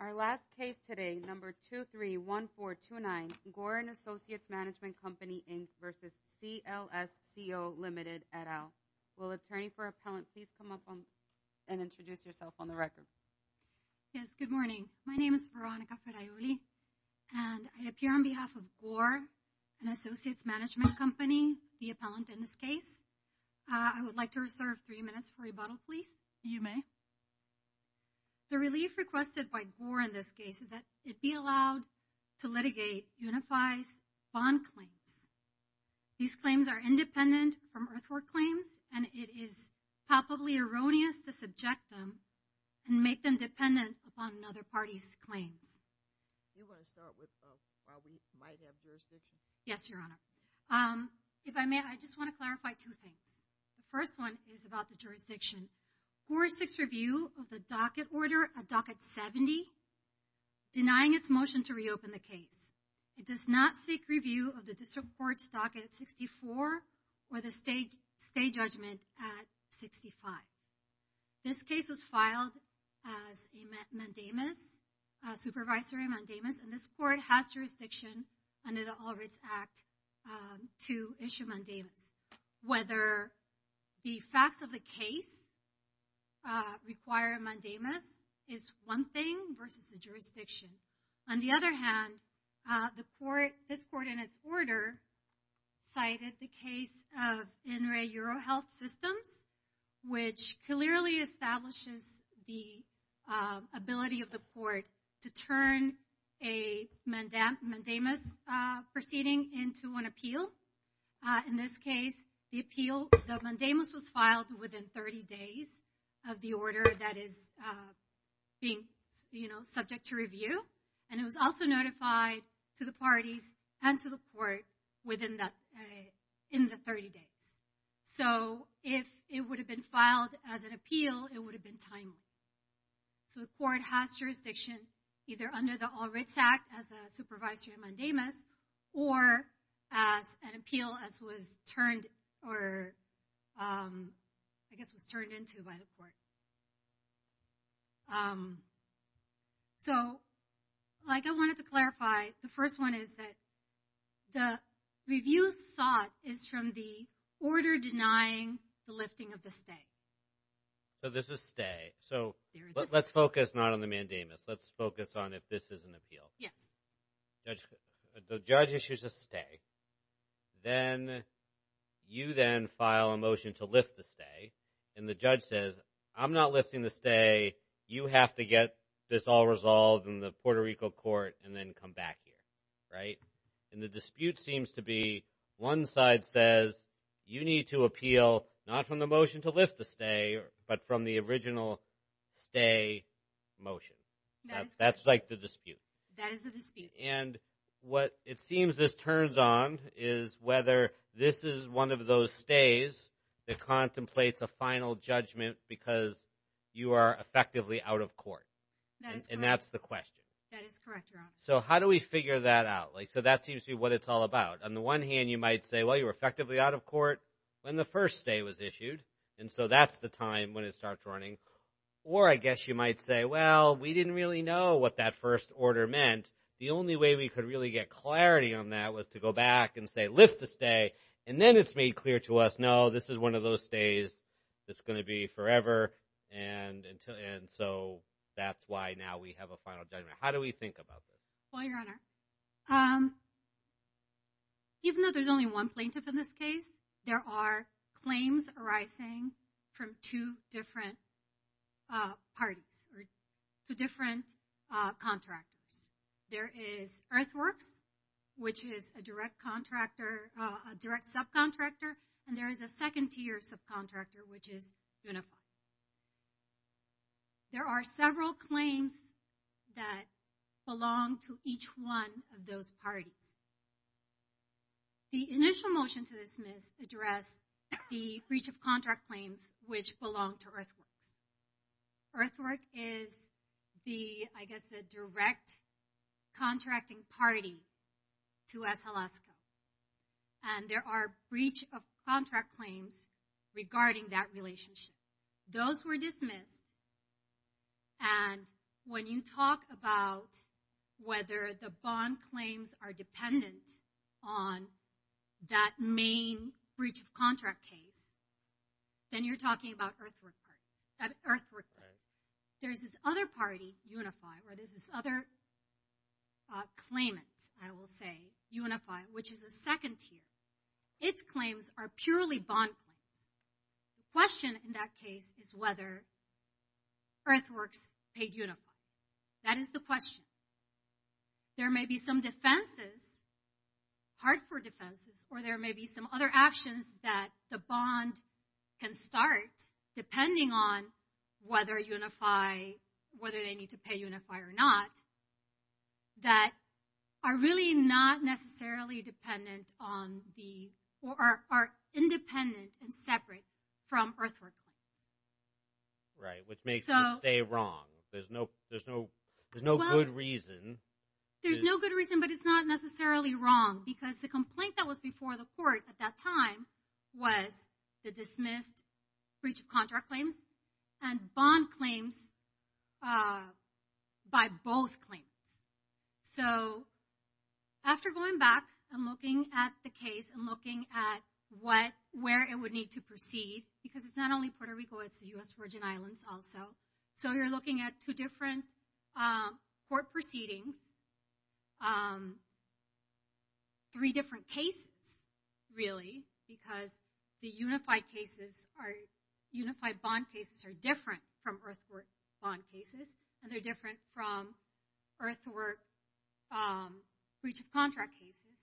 Our last case today, number 231429, Gore and Associates Management Company, Inc. v. SLSCO Ltd. et al. Will attorney for appellant please come up and introduce yourself on the record. Yes, good morning. My name is Veronica Ferraioli, and I appear on behalf of Gore and Associates Management Company, the appellant in this case. I would like to reserve three minutes for rebuttal, please. You may. The relief requested by Gore in this case is that it be allowed to litigate unified bond claims. These claims are independent from earthwork claims, and it is palpably erroneous to subject them and make them dependent upon another party's claims. You want to start with while we might have jurisdiction? Yes, Your Honor. If I may, I just want to clarify two things. The first one is about the jurisdiction. Gore seeks review of the docket order at docket 70, denying its motion to reopen the case. It does not seek review of the district court's docket at 64 or the state judgment at 65. This case was filed as a mandamus, a supervisory mandamus, and this court has jurisdiction under the All Rights Act to issue mandamus. Whether the facts of the case require a mandamus is one thing versus the jurisdiction. On the other hand, this court, in its order, cited the case of INRE EuroHealth Systems, which clearly establishes the ability of the court to turn a mandamus proceeding into an appeal. In this case, the mandamus was filed within 30 days of the order that is being subject to review, and it was also notified to the parties and to the court within the 30 days. So if it would have been filed as an appeal, it would have been timely. So the court has jurisdiction either under the All Rights Act as a supervisory mandamus or as an appeal as was turned, or I guess was turned into by the court. So like I wanted to clarify, the first one is that the review sought is from the order denying the lifting of the stay. So this is stay. So let's focus not on the mandamus. Let's focus on if this is an appeal. Yes. The judge issues a stay. Then you then file a motion to lift the stay, and the judge says, I'm not lifting the stay. You have to get this all resolved in the Puerto Rico court and then come back here, right? And the dispute seems to be one side says, you need to appeal not from the motion to lift the stay, but from the original stay motion. That's like the dispute. That is the dispute. And what it seems this turns on is whether this is one of those stays that contemplates a final judgment because you are effectively out of court. And that's the question. That is correct, Your Honor. So how do we figure that out? Like, so that seems to be what it's all about. On the one hand, you might say, well, you were effectively out of court when the first stay was issued. And so that's the time when it starts running. Or I guess you might say, well, we didn't really know what that first order meant. The only way we could really get clarity on that was to go back and say, lift the stay. And then it's made clear to us, no, this is one of those stays that's gonna be forever. And so that's why now we have a final judgment. How do we think about this? Well, Your Honor, even though there's only one plaintiff in this case, there are claims arising from two different parties or two different contractors. There is Earthworks, which is a direct contractor, a direct subcontractor, and there is a second tier subcontractor, which is Unify. There are several claims that belong to each one of those parties. The initial motion to dismiss address the breach of contract claims which belong to Earthworks. Earthworks is the, I guess, the direct contracting party to S. Alaska. And there are breach of contract claims regarding that relationship. Those were dismissed. And when you talk about whether the bond claims are dependent on that main breach of contract case, then you're talking about Earthworks' claim. There's this other party, Unify, or there's this other claimant, I will say, Unify, which is a second tier. Its claims are purely bond claims. The question in that case is whether Earthworks paid Unify. That is the question. There may be some defenses, hard for defenses, or there may be some other actions that the bond can start, depending on whether Unify, whether they need to pay Unify or not, that are really not necessarily dependent on the, or are independent and separate from Earthworks. Right, which makes it stay wrong. There's no good reason. There's no good reason, but it's not necessarily wrong because the complaint that was before the court at that time was the dismissed breach of contract claims and bond claims by both claimants. So after going back and looking at the case and looking at where it would need to proceed, because it's not only Puerto Rico, it's the U.S. Virgin Islands also, so you're looking at two different court proceedings three different cases, really, because the Unify cases, Unify bond cases are different from Earthworks bond cases, and they're different from Earthworks breach of contract cases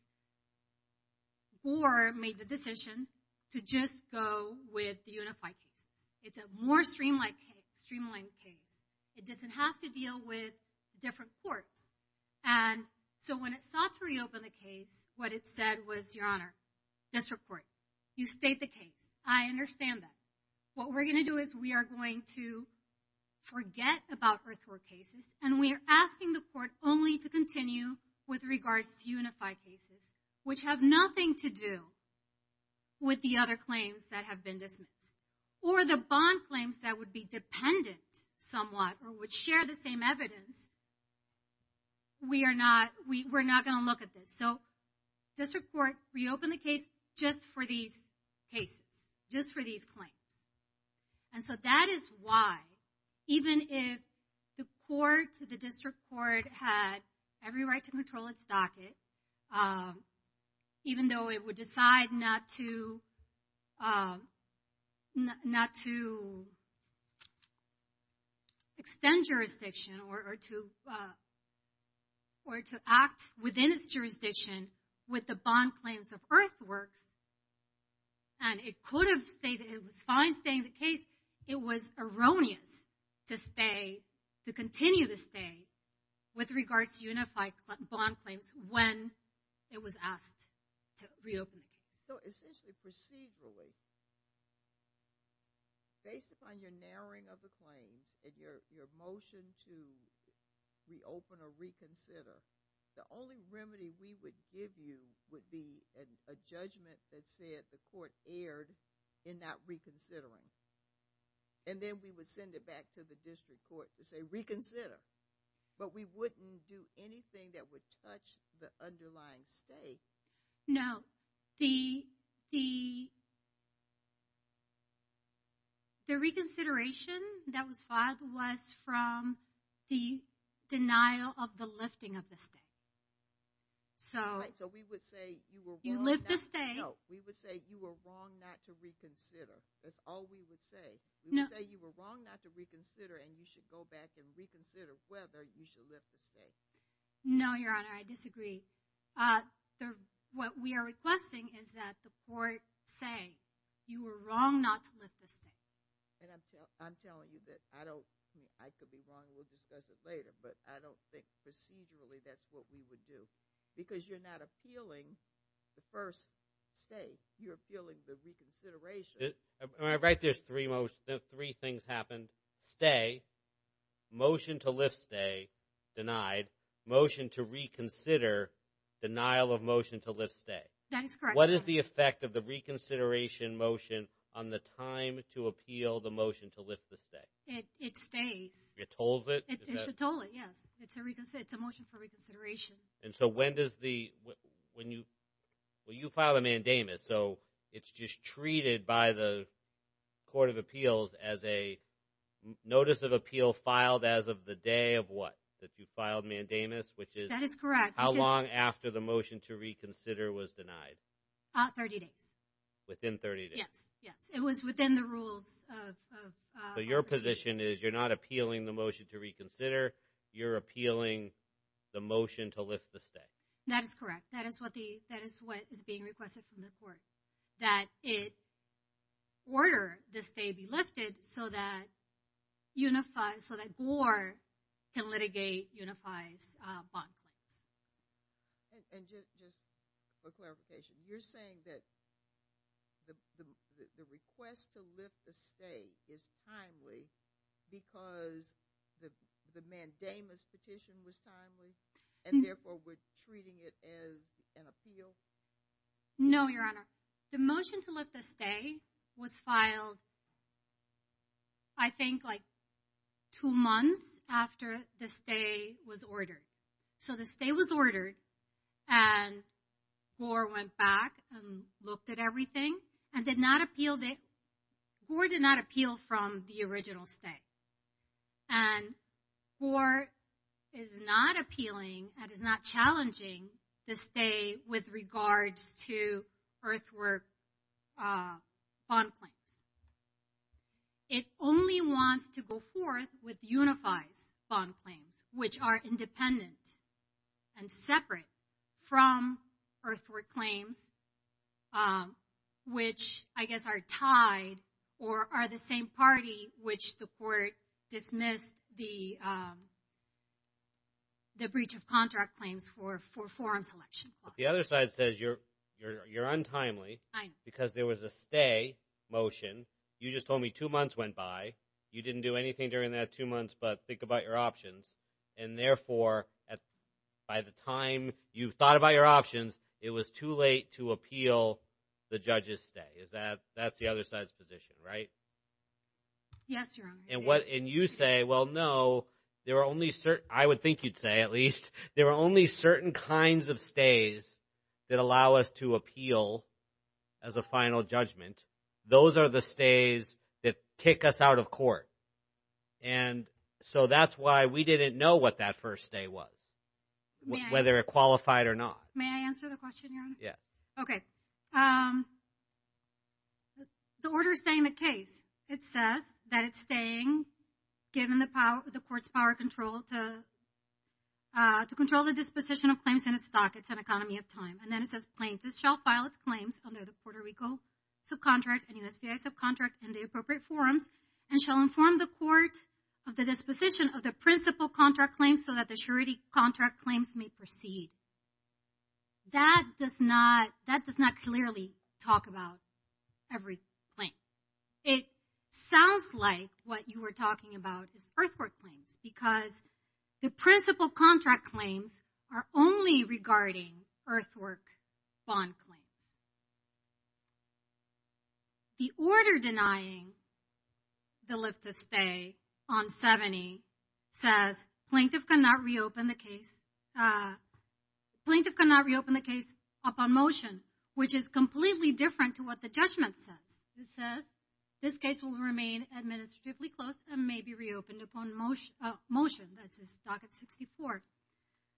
or made the decision to just go with the Unify cases. It's a more streamlined case. It doesn't have to deal with different courts. And so when it sought to reopen the case, what it said was, Your Honor, this report, you state the case, I understand that. What we're gonna do is we are going to forget about Earthworks cases, and we are asking the court only to continue with regards to Unify cases, which have nothing to do with the other claims that have been dismissed. Or the bond claims that would be dependent somewhat or would share the same evidence. We are not, we're not gonna look at this. So district court reopened the case just for these cases, just for these claims. And so that is why, even if the court, the district court had every right to control its docket, even though it would decide not to, not to extend jurisdiction or to, or to act within its jurisdiction with the bond claims of Earthworks, and it could have stayed, it was fine staying the case, it was erroneous to stay, to continue to stay with regards to Unify bond claims when it was asked to reopen the case. So essentially, procedurally, based upon your narrowing of the claims and your motion to reopen or reconsider, the only remedy we would give you would be a judgment that said the court erred in not reconsidering. And then we would send it back to the district court to say reconsider. But we wouldn't do anything that would touch the underlying stake. No, the, the reconsideration that was filed was from the denial of the lifting of the stake. So. Right, so we would say, you were wrong not to. You lift the stake. No, we would say you were wrong not to reconsider. That's all we would say. No. We would say you were wrong not to reconsider and you should go back and reconsider whether you should lift the stake. No, Your Honor, I disagree. What we are requesting is that the court say, you were wrong not to lift the stake. And I'm telling you that I don't, I could be wrong, we'll discuss it later, but I don't think procedurally that's what we would do. Because you're not appealing the first stake, you're appealing the reconsideration. Right, there's three things happened. Stay, motion to lift stay, denied. Motion to reconsider, denial of motion to lift stay. That is correct, Your Honor. What is the effect of the reconsideration motion on the time to appeal the motion to lift the stake? It stays. It tolls it? It's a toll, yes. It's a motion for reconsideration. And so when does the, when you, well, you filed a mandamus, so it's just treated by the court of appeals as a notice of appeal filed as of the day of what? That you filed mandamus, which is? How long after the motion to reconsider was denied? 30 days. Within 30 days? Yes, yes. It was within the rules of. So your position is you're not appealing the motion to reconsider, you're appealing the motion to lift the stake. That is correct. That is what the, that is what is being requested from the court. That it order the stake be lifted so that unified, so that Gore can litigate unified's bond claims. And just for clarification, you're saying that the request to lift the stake is timely because the mandamus petition was timely and therefore we're treating it as an appeal? No, Your Honor. The motion to lift the stake was filed, I think like two months after the stay was ordered. So the stay was ordered and Gore went back and looked at everything and did not appeal, Gore did not appeal from the original stay. And Gore is not appealing and is not challenging the stay with regards to earthwork bond claims. It only wants to go forth with unified's bond claims, which are independent and separate from earthwork claims, which I guess are tied or are the same party which the court dismissed the breach of contract claims for forum selection. The other side says you're untimely because there was a stay motion. You just told me two months went by. You didn't do anything during that two months, but think about your options. And therefore, by the time you thought about your options, it was too late to appeal the judge's stay. That's the other side's position, right? Yes, Your Honor. And you say, well, no, there are only certain, I would think you'd say at least, there are only certain kinds of stays that allow us to appeal as a final judgment. Those are the stays that kick us out of court. And so that's why we didn't know what that first stay was, whether it qualified or not. May I answer the question, Your Honor? Yes. Okay. The order is saying the case. It says that it's saying, given the court's power control to control the disposition of claims and its stock, it's an economy of time. And then it says plaintiffs shall file its claims under the Puerto Rico subcontract and USBI subcontract in the appropriate forums and shall inform the court of the disposition of the principal contract claims so that the surety contract claims may proceed. That does not clearly talk about every claim. It sounds like what you were talking about is first court claims because the principal contract claims are only regarding earthwork bond claims. The order denying the lift of stay on 70 says plaintiff cannot reopen the case. Plaintiff cannot reopen the case upon motion, which is completely different to what the judgment says. It says this case will remain administratively closed and may be reopened upon motion. That's this docket 64.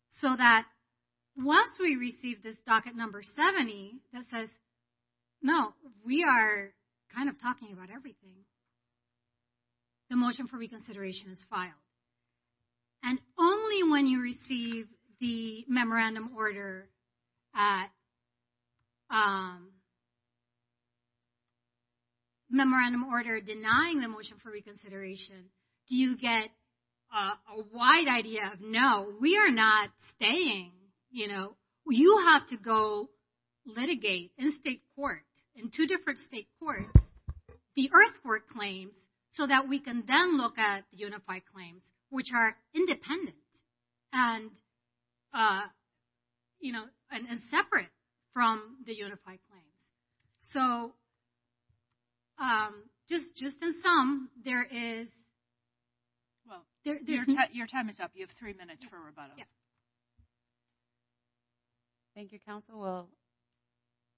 So that once we receive this docket number 70, that says, no, we are kind of talking about everything. The motion for reconsideration is filed. And only when you receive the memorandum order denying the motion for reconsideration do you get a wide idea of no, we are not staying. You have to go litigate in state court, in two different state courts, the earthwork claims so that we can then look at the unified claims, which are independent and separate from the unified claims. So just in sum, there is... Well, your time is up, you have three minutes for rebuttal. Thank you, counsel. Well,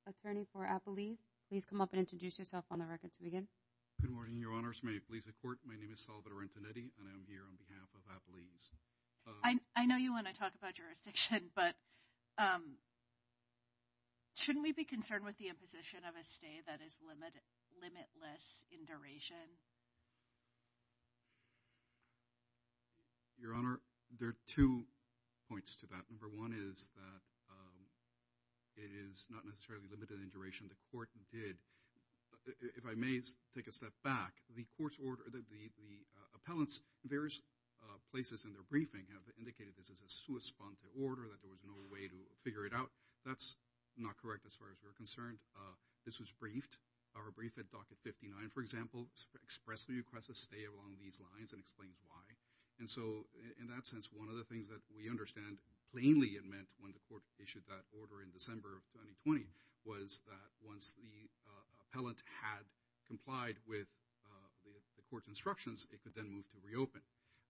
attorney for Appalese, please come up and introduce yourself on the record to begin. Good morning, your honors. May it please the court. My name is Salvatore Antonetti and I'm here on behalf of Appalese. I know you want to talk about jurisdiction, but shouldn't we be concerned with the imposition of a stay that is limitless in duration? Your honor, there are two points to that. Number one is that it is not necessarily limited in duration, the court did. If I may take a step back, the court's order that the appellants, various places in their briefing have indicated this as a sua sponte order, that there was no way to figure it out. That's not correct as far as we're concerned. This was briefed, our brief at docket 59, for example, express the request to stay along these lines and explain why. And so in that sense, one of the things that we understand, plainly it meant when the court issued that order in December of 2020, was that once the appellant had complied with the court's instructions, it could then move to reopen.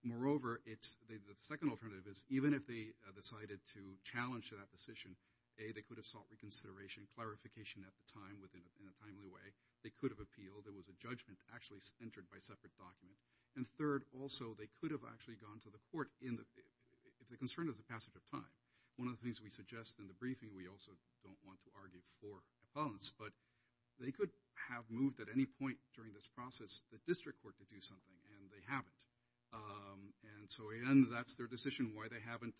Moreover, the second alternative is even if they decided to challenge that position, A, they could have sought reconsideration, clarification at the time within a timely way, they could have appealed, there was a judgment actually entered by separate document. And third, also, they could have actually gone to the court if the concern is the passage of time. One of the things we suggest in the briefing, we also don't want to argue for appellants, but they could have moved at any point during this process, the district court to do something and they haven't. And so again, that's their decision, why they haven't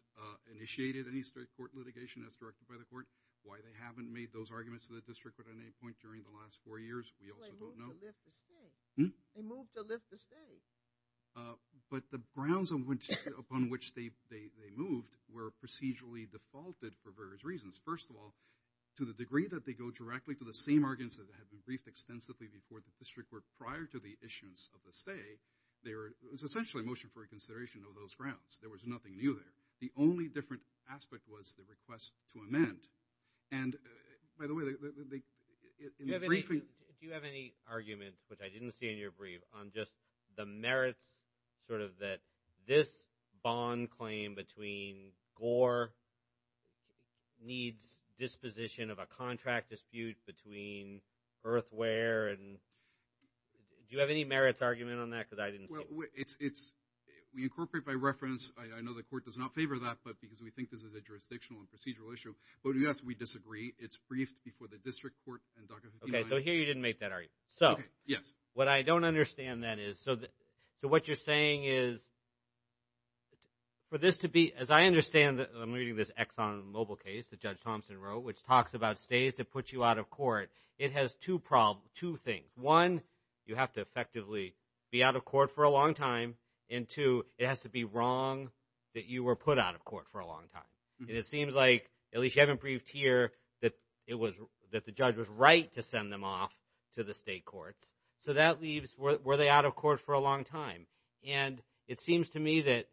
initiated any state court litigation as directed by the court, why they haven't made those arguments to the district at any point during the last four years, we also don't know. They moved to lift the stay. They moved to lift the stay. But the grounds upon which they moved were procedurally defaulted for various reasons. First of all, to the degree that they go directly to the same arguments that had been briefed extensively before the district court prior to the issuance of the stay, there was essentially a motion for reconsideration of those grounds, there was nothing new there. The only different aspect was the request to amend. And by the way, in the briefing, do you have any argument, which I didn't see in your brief, on just the merits sort of that this bond claim between Gore needs disposition of a contract dispute between Earthware and, do you have any merits argument on that? Because I didn't see it. We incorporate by reference, I know the court does not favor that, but because we think this is a jurisdictional and procedural issue. But yes, we disagree. It's briefed before the district court and Dr. Hatim. Okay, so here you didn't make that argument. So what I don't understand then is, so what you're saying is for this to be, as I understand, I'm reading this Exxon Mobil case that Judge Thompson wrote, which talks about stays that put you out of court. It has two things. One, you have to effectively be out of court for a long time and two, it has to be wrong that you were put out of court for a long time. And it seems like, at least you haven't briefed here, that the judge was right to send them off to the state courts. So that leaves, were they out of court for a long time? And it seems to me that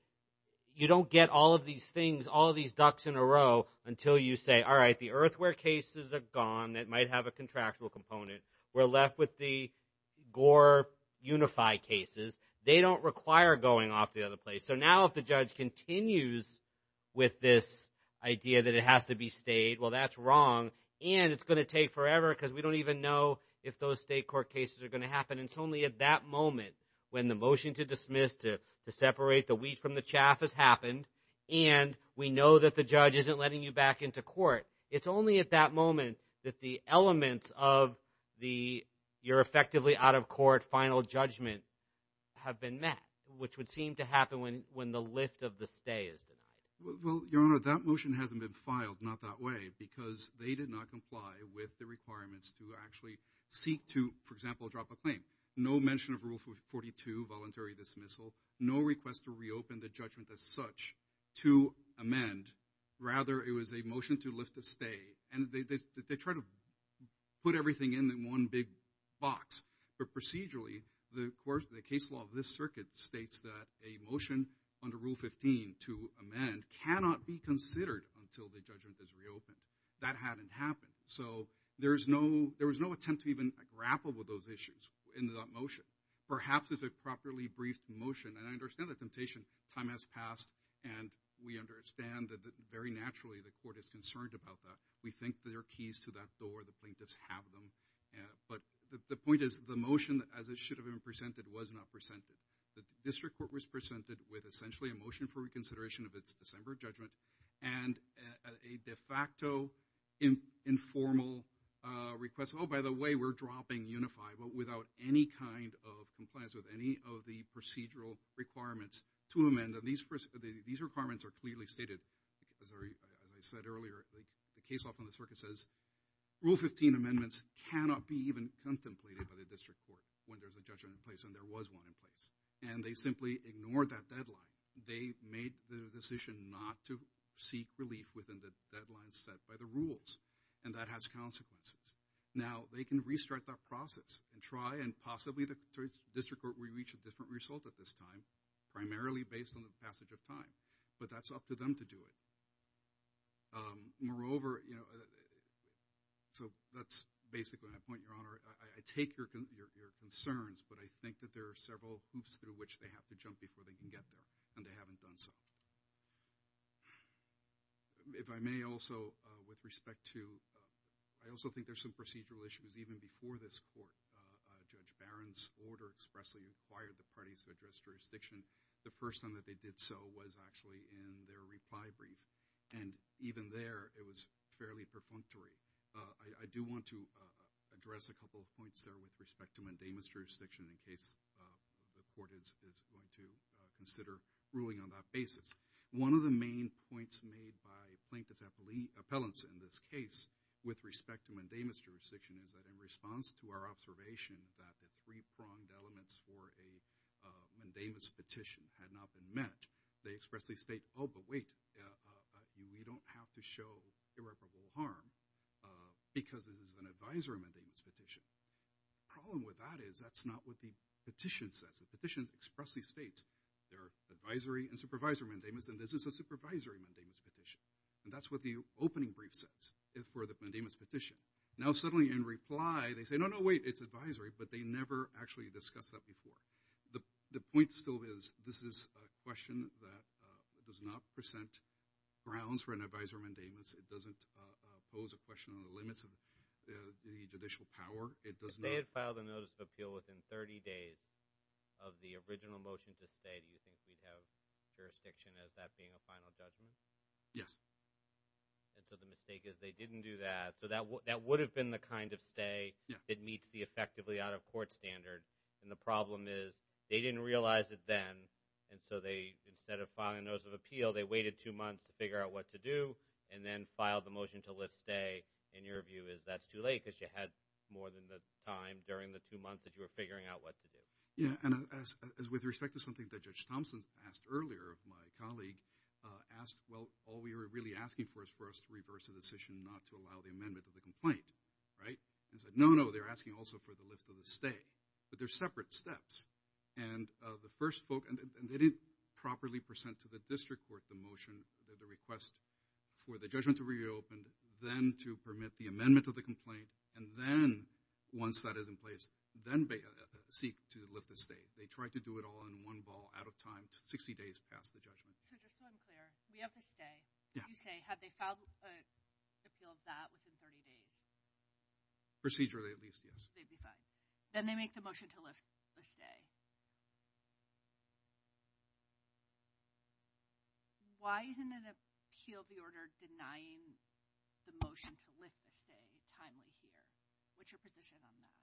you don't get all of these things, all of these ducks in a row until you say, all right, the Earthware cases are gone. That might have a contractual component. We're left with the Gore Unified cases. They don't require going off the other place. So now if the judge continues with this idea that it has to be stayed, well, that's wrong. And it's gonna take forever because we don't even know if those state court cases are gonna happen. It's only at that moment when the motion to dismiss, to separate the wheat from the chaff has happened and we know that the judge isn't letting you back into court. It's only at that moment that the elements of your effectively out of court final judgment have been met, which would seem to happen when the lift of the stay is denied. Well, Your Honor, that motion hasn't been filed, not that way, because they did not comply with the requirements to actually seek to, for example, drop a claim. No mention of Rule 42, voluntary dismissal, no request to reopen the judgment as such to amend. Rather, it was a motion to lift the stay. And they try to put everything in one big box. But procedurally, the case law of this circuit states that a motion under Rule 15 to amend cannot be considered until the judgment is reopened. That hadn't happened. So there was no attempt to even grapple with those issues in that motion. Perhaps it's a properly briefed motion, and I understand the temptation, time has passed, and we understand that very naturally the court is concerned about that. We think that there are keys to that door, the plaintiffs have them. But the point is the motion, as it should have been presented, was not presented. The district court was presented with essentially a motion for reconsideration of its December judgment and a de facto informal request, oh, by the way, we're dropping Unified, but without any kind of compliance with any of the procedural requirements to amend. And these requirements are clearly stated. As I said earlier, the case law from the circuit says Rule 15 amendments cannot be even contemplated by the district court when there's a judgment in place, and there was one in place. And they simply ignored that deadline. They made the decision not to seek relief within the deadline set by the rules. And that has consequences. Now, they can restart that process and try, and possibly the district court will reach a different result at this time, primarily based on the passage of time. But that's up to them to do it. Moreover, so that's basically my point, Your Honor. I take your concerns, but I think that there are several hoops through which they have to jump before they can get there, and they haven't done so. If I may also, with respect to, I also think there's some procedural issues. Even before this court, Judge Barron's order expressly required the parties to address jurisdiction. The first time that they did so was actually in their reply brief. And even there, it was fairly perfunctory. I do want to address a couple of points there with respect to mandamus jurisdiction in case the court is going to consider ruling on that basis. One of the main points made by plaintiff's appellants in this case, with respect to mandamus jurisdiction, is that in response to our observation that the three-pronged elements for a mandamus petition had not been met, they expressly state, oh, but wait, we don't have to show irreparable harm because it is an advisory mandamus petition. Problem with that is that's not what the petition says. The petition expressly states there are advisory and supervisory mandamus, and this is a supervisory mandamus petition. And that's what the opening brief says for the mandamus petition. Now suddenly in reply, they say, no, no, wait, it's advisory, but they never actually discuss that before. The point still is this is a question that does not present grounds for an advisory mandamus. It doesn't pose a question on the limits of the judicial power. It does not- If they had filed a notice of appeal within 30 days of the original motion to stay, do you think we'd have jurisdiction as that being a final judgment? Yes. And so the mistake is they didn't do that. So that would have been the kind of stay that meets the effectively out-of-court standard. And the problem is they didn't realize it then, and so they, instead of filing a notice of appeal, they waited two months to figure out what to do, and then filed the motion to lift stay. And your view is that's too late because you had more than the time during the two months that you were figuring out what to do. Yeah, and as with respect to something that Judge Thompson asked earlier, my colleague asked, well, all we were really asking for is for us to reverse the decision not to allow the amendment of the complaint, right? And he said, no, no, they're asking also for the lift of the stay. But they're separate steps. And the first folk, and they didn't properly present to the district court the motion, the request for the judgment to reopen, then to permit the amendment of the complaint, and then, once that is in place, then seek to lift the stay. They tried to do it all in one ball, out of time, 60 days past the judgment. So just so I'm clear, we have the stay. Yeah. You say, have they filed an appeal of that within 30 days? Procedurally, at least, yes. They'd be fine. Then they make the motion to lift the stay. Why isn't an appeal of the order denying the motion to lift the stay timely here? What's your position on that?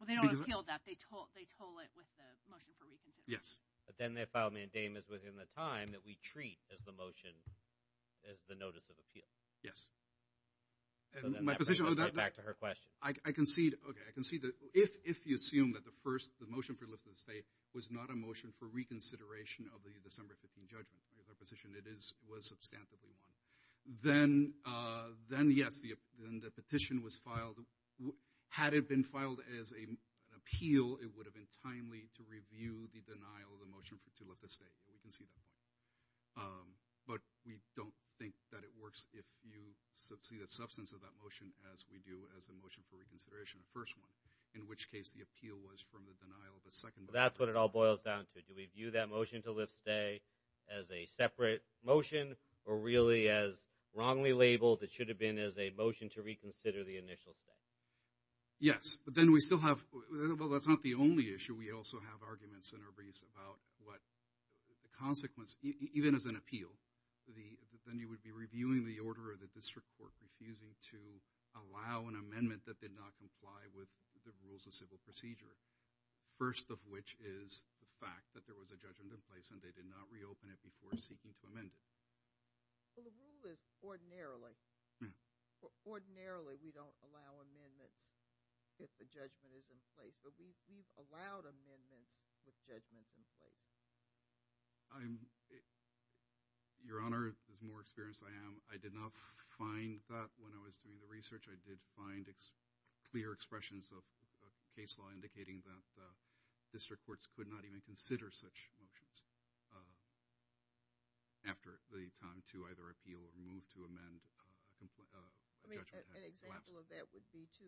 Well, they don't appeal that. They told it with the motion for reconsideration. Yes. But then they filed mandamus within the time that we treat as the motion, as the notice of appeal. Yes. So then that brings us right back to her question. I concede, okay, I concede that if you assume that the motion for lift of the stay was not a motion for reconsideration of the December 15 judgment, in my position, it was substantively one, then, yes, the petition was filed. Had it been filed as an appeal, it would have been timely to review the denial of the motion to lift the stay. We can see that. But we don't think that it works if you see the substance of that motion as we do as the motion for reconsideration, the first one, in which case the appeal was from the denial of the second motion. That's what it all boils down to. Do we view that motion to lift stay as a separate motion or really as wrongly labeled it should have been as a motion to reconsider the initial stay? Yes, but then we still have, well, that's not the only issue. We also have arguments in our briefs about what the consequence, even as an appeal, then you would be reviewing the order of the district court refusing to allow an amendment that did not comply with the rules of civil procedure, first of which is the fact that there was a judgment in place and they did not reopen it before seeking to amend it. Well, the rule is ordinarily, ordinarily, we don't allow amendments if a judgment is in place. But we've allowed amendments with judgment in place. Your Honor, as more experienced as I am, I did not find that when I was doing the research. I did find clear expressions of case law indicating that district courts could not even consider such motions after the time to either appeal or move to amend a judgment had collapsed. I mean, an example of that would be to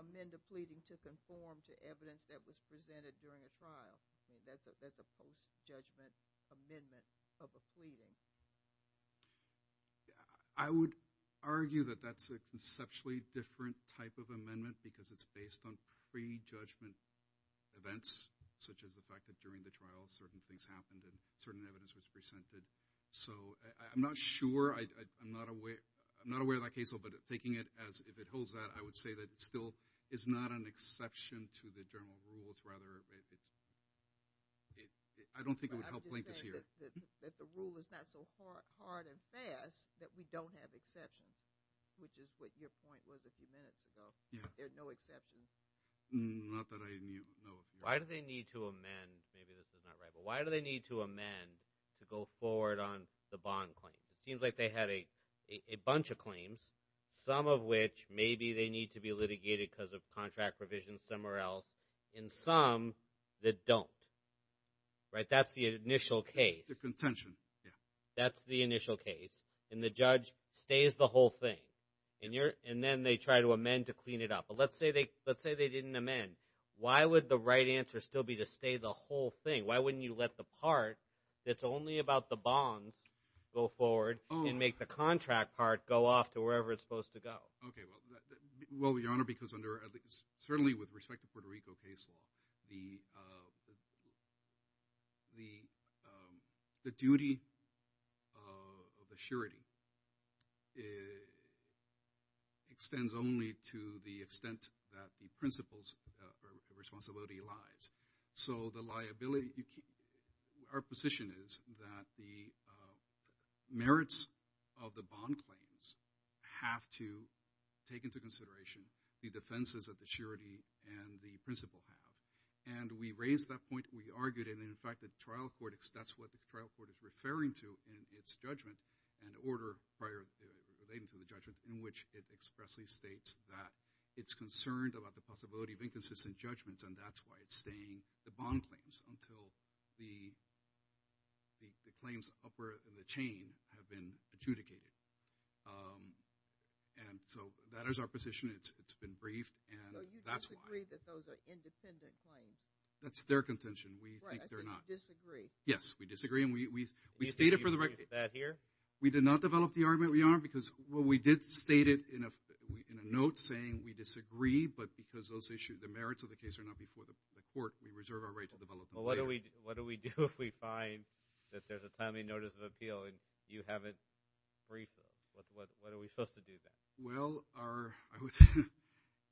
amend a pleading to conform to evidence that was presented during a trial. That's a post-judgment amendment of a pleading. I would argue that that's a conceptually different type of amendment because it's based on pre-judgment events such as the fact that during the trial certain things happened and certain evidence was presented. So I'm not sure, I'm not aware of that case law, but taking it as if it holds that, I would say that it still is not an exception to the general rules rather. I don't think it would help link this here. That the rule is not so hard and fast that we don't have exceptions, which is what your point was a few minutes ago. There are no exceptions. Not that I knew, no. Why do they need to amend, maybe this is not right, but why do they need to amend to go forward on the bond claim? It seems like they had a bunch of claims, some of which maybe they need to be litigated because of contract provisions somewhere else, and some that don't, right? That's the initial case. The contention, yeah. That's the initial case, and the judge stays the whole thing, and then they try to amend to clean it up. But let's say they didn't amend. Why would the right answer still be to stay the whole thing? Why wouldn't you let the part that's only about the bonds go forward and make the contract part go off to wherever it's supposed to go? Okay, well, Your Honor, because under, certainly with respect to Puerto Rico case law, the duty of assurity extends only to the extent that the principles of responsibility lies. So the liability, our position is that the merits of the bond claims have to take into consideration the defenses of the surety and the principle have. And we raised that point. We argued it, and in fact, the trial court, that's what the trial court is referring to in its judgment, an order relating to the judgment in which it expressly states that it's concerned about the possibility of inconsistent judgments, and that's why it's saying the bond claims until the claims upward in the chain have been adjudicated. And so that is our position. It's been briefed, and that's why. So you disagree that those are independent claims? That's their contention. We think they're not. Right, I think you disagree. Yes, we disagree, and we stated for the record. That here? We did not develop the argument, Your Honor, because, well, we did state it in a note saying we disagree, but because those issues, the merits of the case are not before the court, we reserve our right to develop them later. Well, what do we do if we find that there's a timely notice of appeal, and you haven't briefed us? What are we supposed to do then? Well, I would,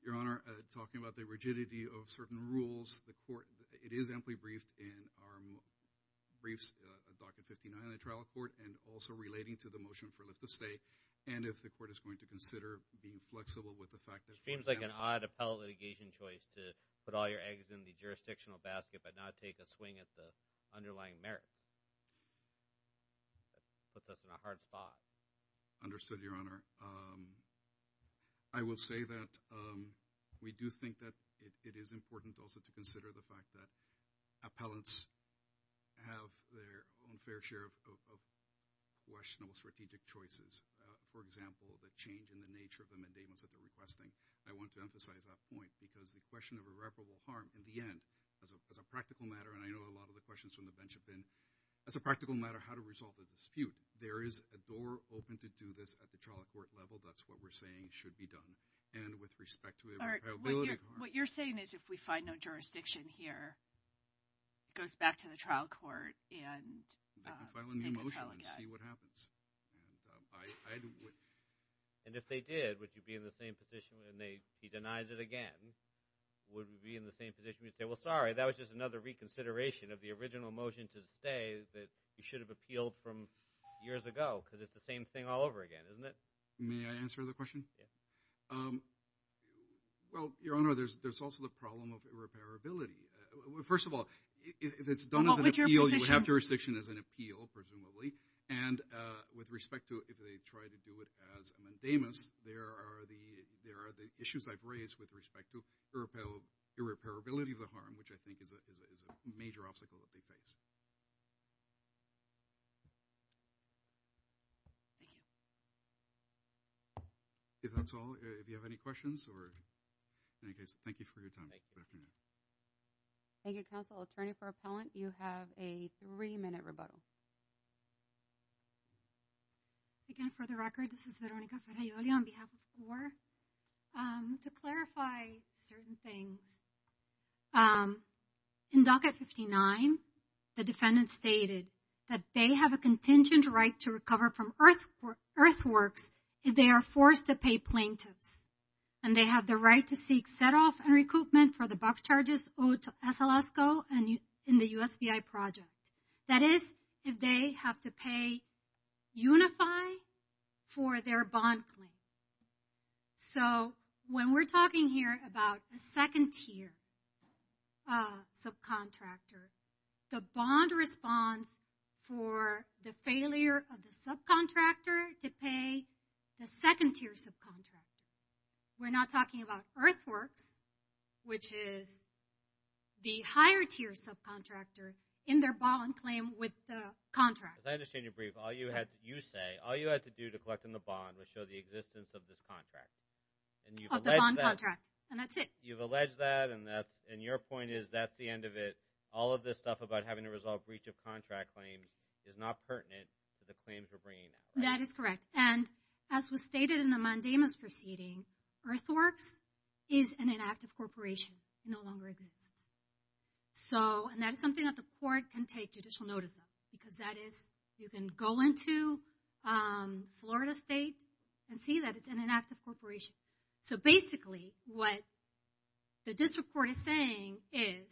Your Honor, talking about the rigidity of certain rules, the court, it is amply briefed in our briefs of Doctrine 59 in the trial court, and also relating to the motion for lift of stay, and if the court is going to consider being flexible with the fact that- Seems like an odd appellate litigation choice to put all your eggs in the jurisdictional basket, but not take a swing at the underlying merits. Puts us in a hard spot. Understood, Your Honor. I will say that we do think that it is important also to consider the fact that appellants have their own fair share of questionable strategic choices. For example, the change in the nature of the mandamus that they're requesting. I want to emphasize that point, because the question of irreparable harm, in the end, as a practical matter, and I know a lot of the questions from the bench have been, as a practical matter, how to resolve a dispute. There is a door open to do this at the trial court level. That's what we're saying should be done, and with respect to the probability of harm. What you're saying is if we find no jurisdiction here, it goes back to the trial court and- I can file a new motion and see what happens. And if they did, would you be in the same position, and he denies it again, would we be in the same position? Would you say, well, sorry, that was just another reconsideration of the original motion to say that you should have appealed from years ago, because it's the same thing all over again, isn't it? May I answer the question? Well, Your Honor, there's also the problem of irreparability. First of all, if it's done as an appeal, you have jurisdiction as an appeal, presumably, and with respect to if they try to do it as a mandamus, there are the issues I've raised with respect to irreparability of the harm, which I think is a major obstacle that they face. Thank you. Okay, that's all. If you have any questions or, in any case, thank you for your time. Thank you. Thank you, Counsel. Attorney for Appellant, you have a three-minute rebuttal. Again, for the record, this is Veronica Ferraioli on behalf of the Court. To clarify certain things, in Docket 59, the defendant stated that they have a contingent right to recover from earthworks if they are forced to pay plaintiffs, and they have the right to seek set-off and recoupment for the box charges owed to Esalasco in the USBI project. That is, if they have to pay UNIFI for their bond claim. So, when we're talking here about a second-tier subcontractor, the bond responds for the failure of the subcontractor to pay the second-tier subcontractor. We're not talking about earthworks, which is the higher-tier subcontractor in their bond claim with the contract. As I understand your brief, all you say, all you had to do to collect on the bond was show the existence of this contract. Of the bond contract, and that's it. You've alleged that, and your point is that's the end of it. All of this stuff about having to resolve breach of contract claim is not pertinent to the claims we're bringing out. That is correct, and as was stated in the mandamus proceeding, earthworks is an inactive corporation. No longer exists. So, and that is something that the court can take judicial notice of, because that is, you can go into Florida State and see that it's an inactive corporation. So basically, what the district court is saying is,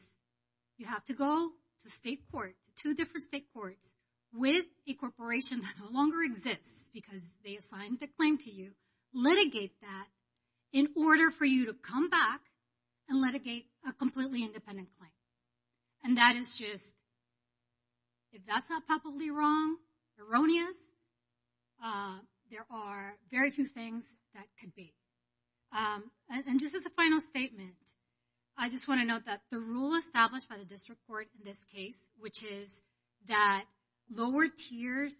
you have to go to state court, two different state courts, with a corporation that no longer exists because they assigned the claim to you, litigate that in order for you to come back and litigate a completely independent claim. And that is just, if that's not probably wrong, erroneous, there are very few things that could be. And just as a final statement, I just wanna note that the rule established by the district court in this case, which is that lower tiers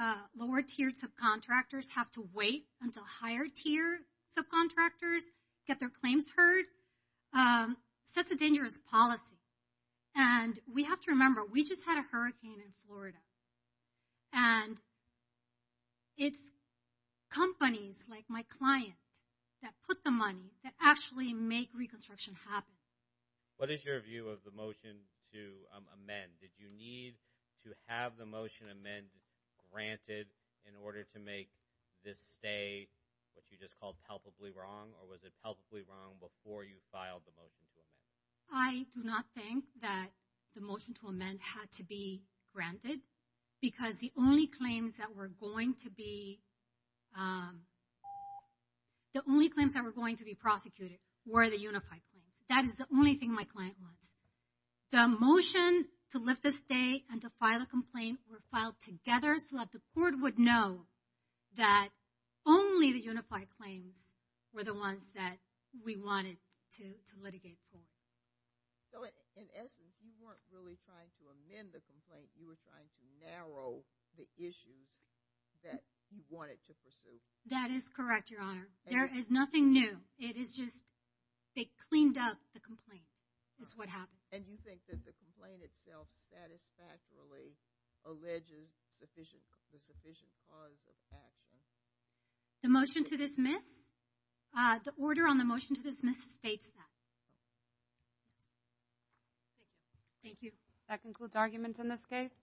of contractors have to wait until higher tier subcontractors get their claims heard, sets a dangerous policy. And we have to remember, we just had a hurricane in Florida. And it's companies like my client that put the money, that actually make reconstruction happen. What is your view of the motion to amend? Did you need to have the motion amend granted in order to make this stay, what you just called palpably wrong? Or was it palpably wrong before you filed the motion to amend? I do not think that the motion to amend had to be granted because the only claims that were going to be, the only claims that were going to be prosecuted were the unified claims. That is the only thing my client wants. The motion to lift the stay and to file a complaint were filed together so that the court would know that only the unified claims were the ones that we wanted to litigate for. So in essence, you weren't really trying to amend the complaint. You were trying to narrow the issues that you wanted to pursue. That is correct, Your Honor. There is nothing new. It is just they cleaned up the complaint is what happened. And you think that the complaint itself satisfactorily alleges the sufficient cause of action? The motion to dismiss? The order on the motion to dismiss states that. Thank you. That concludes arguments in this case.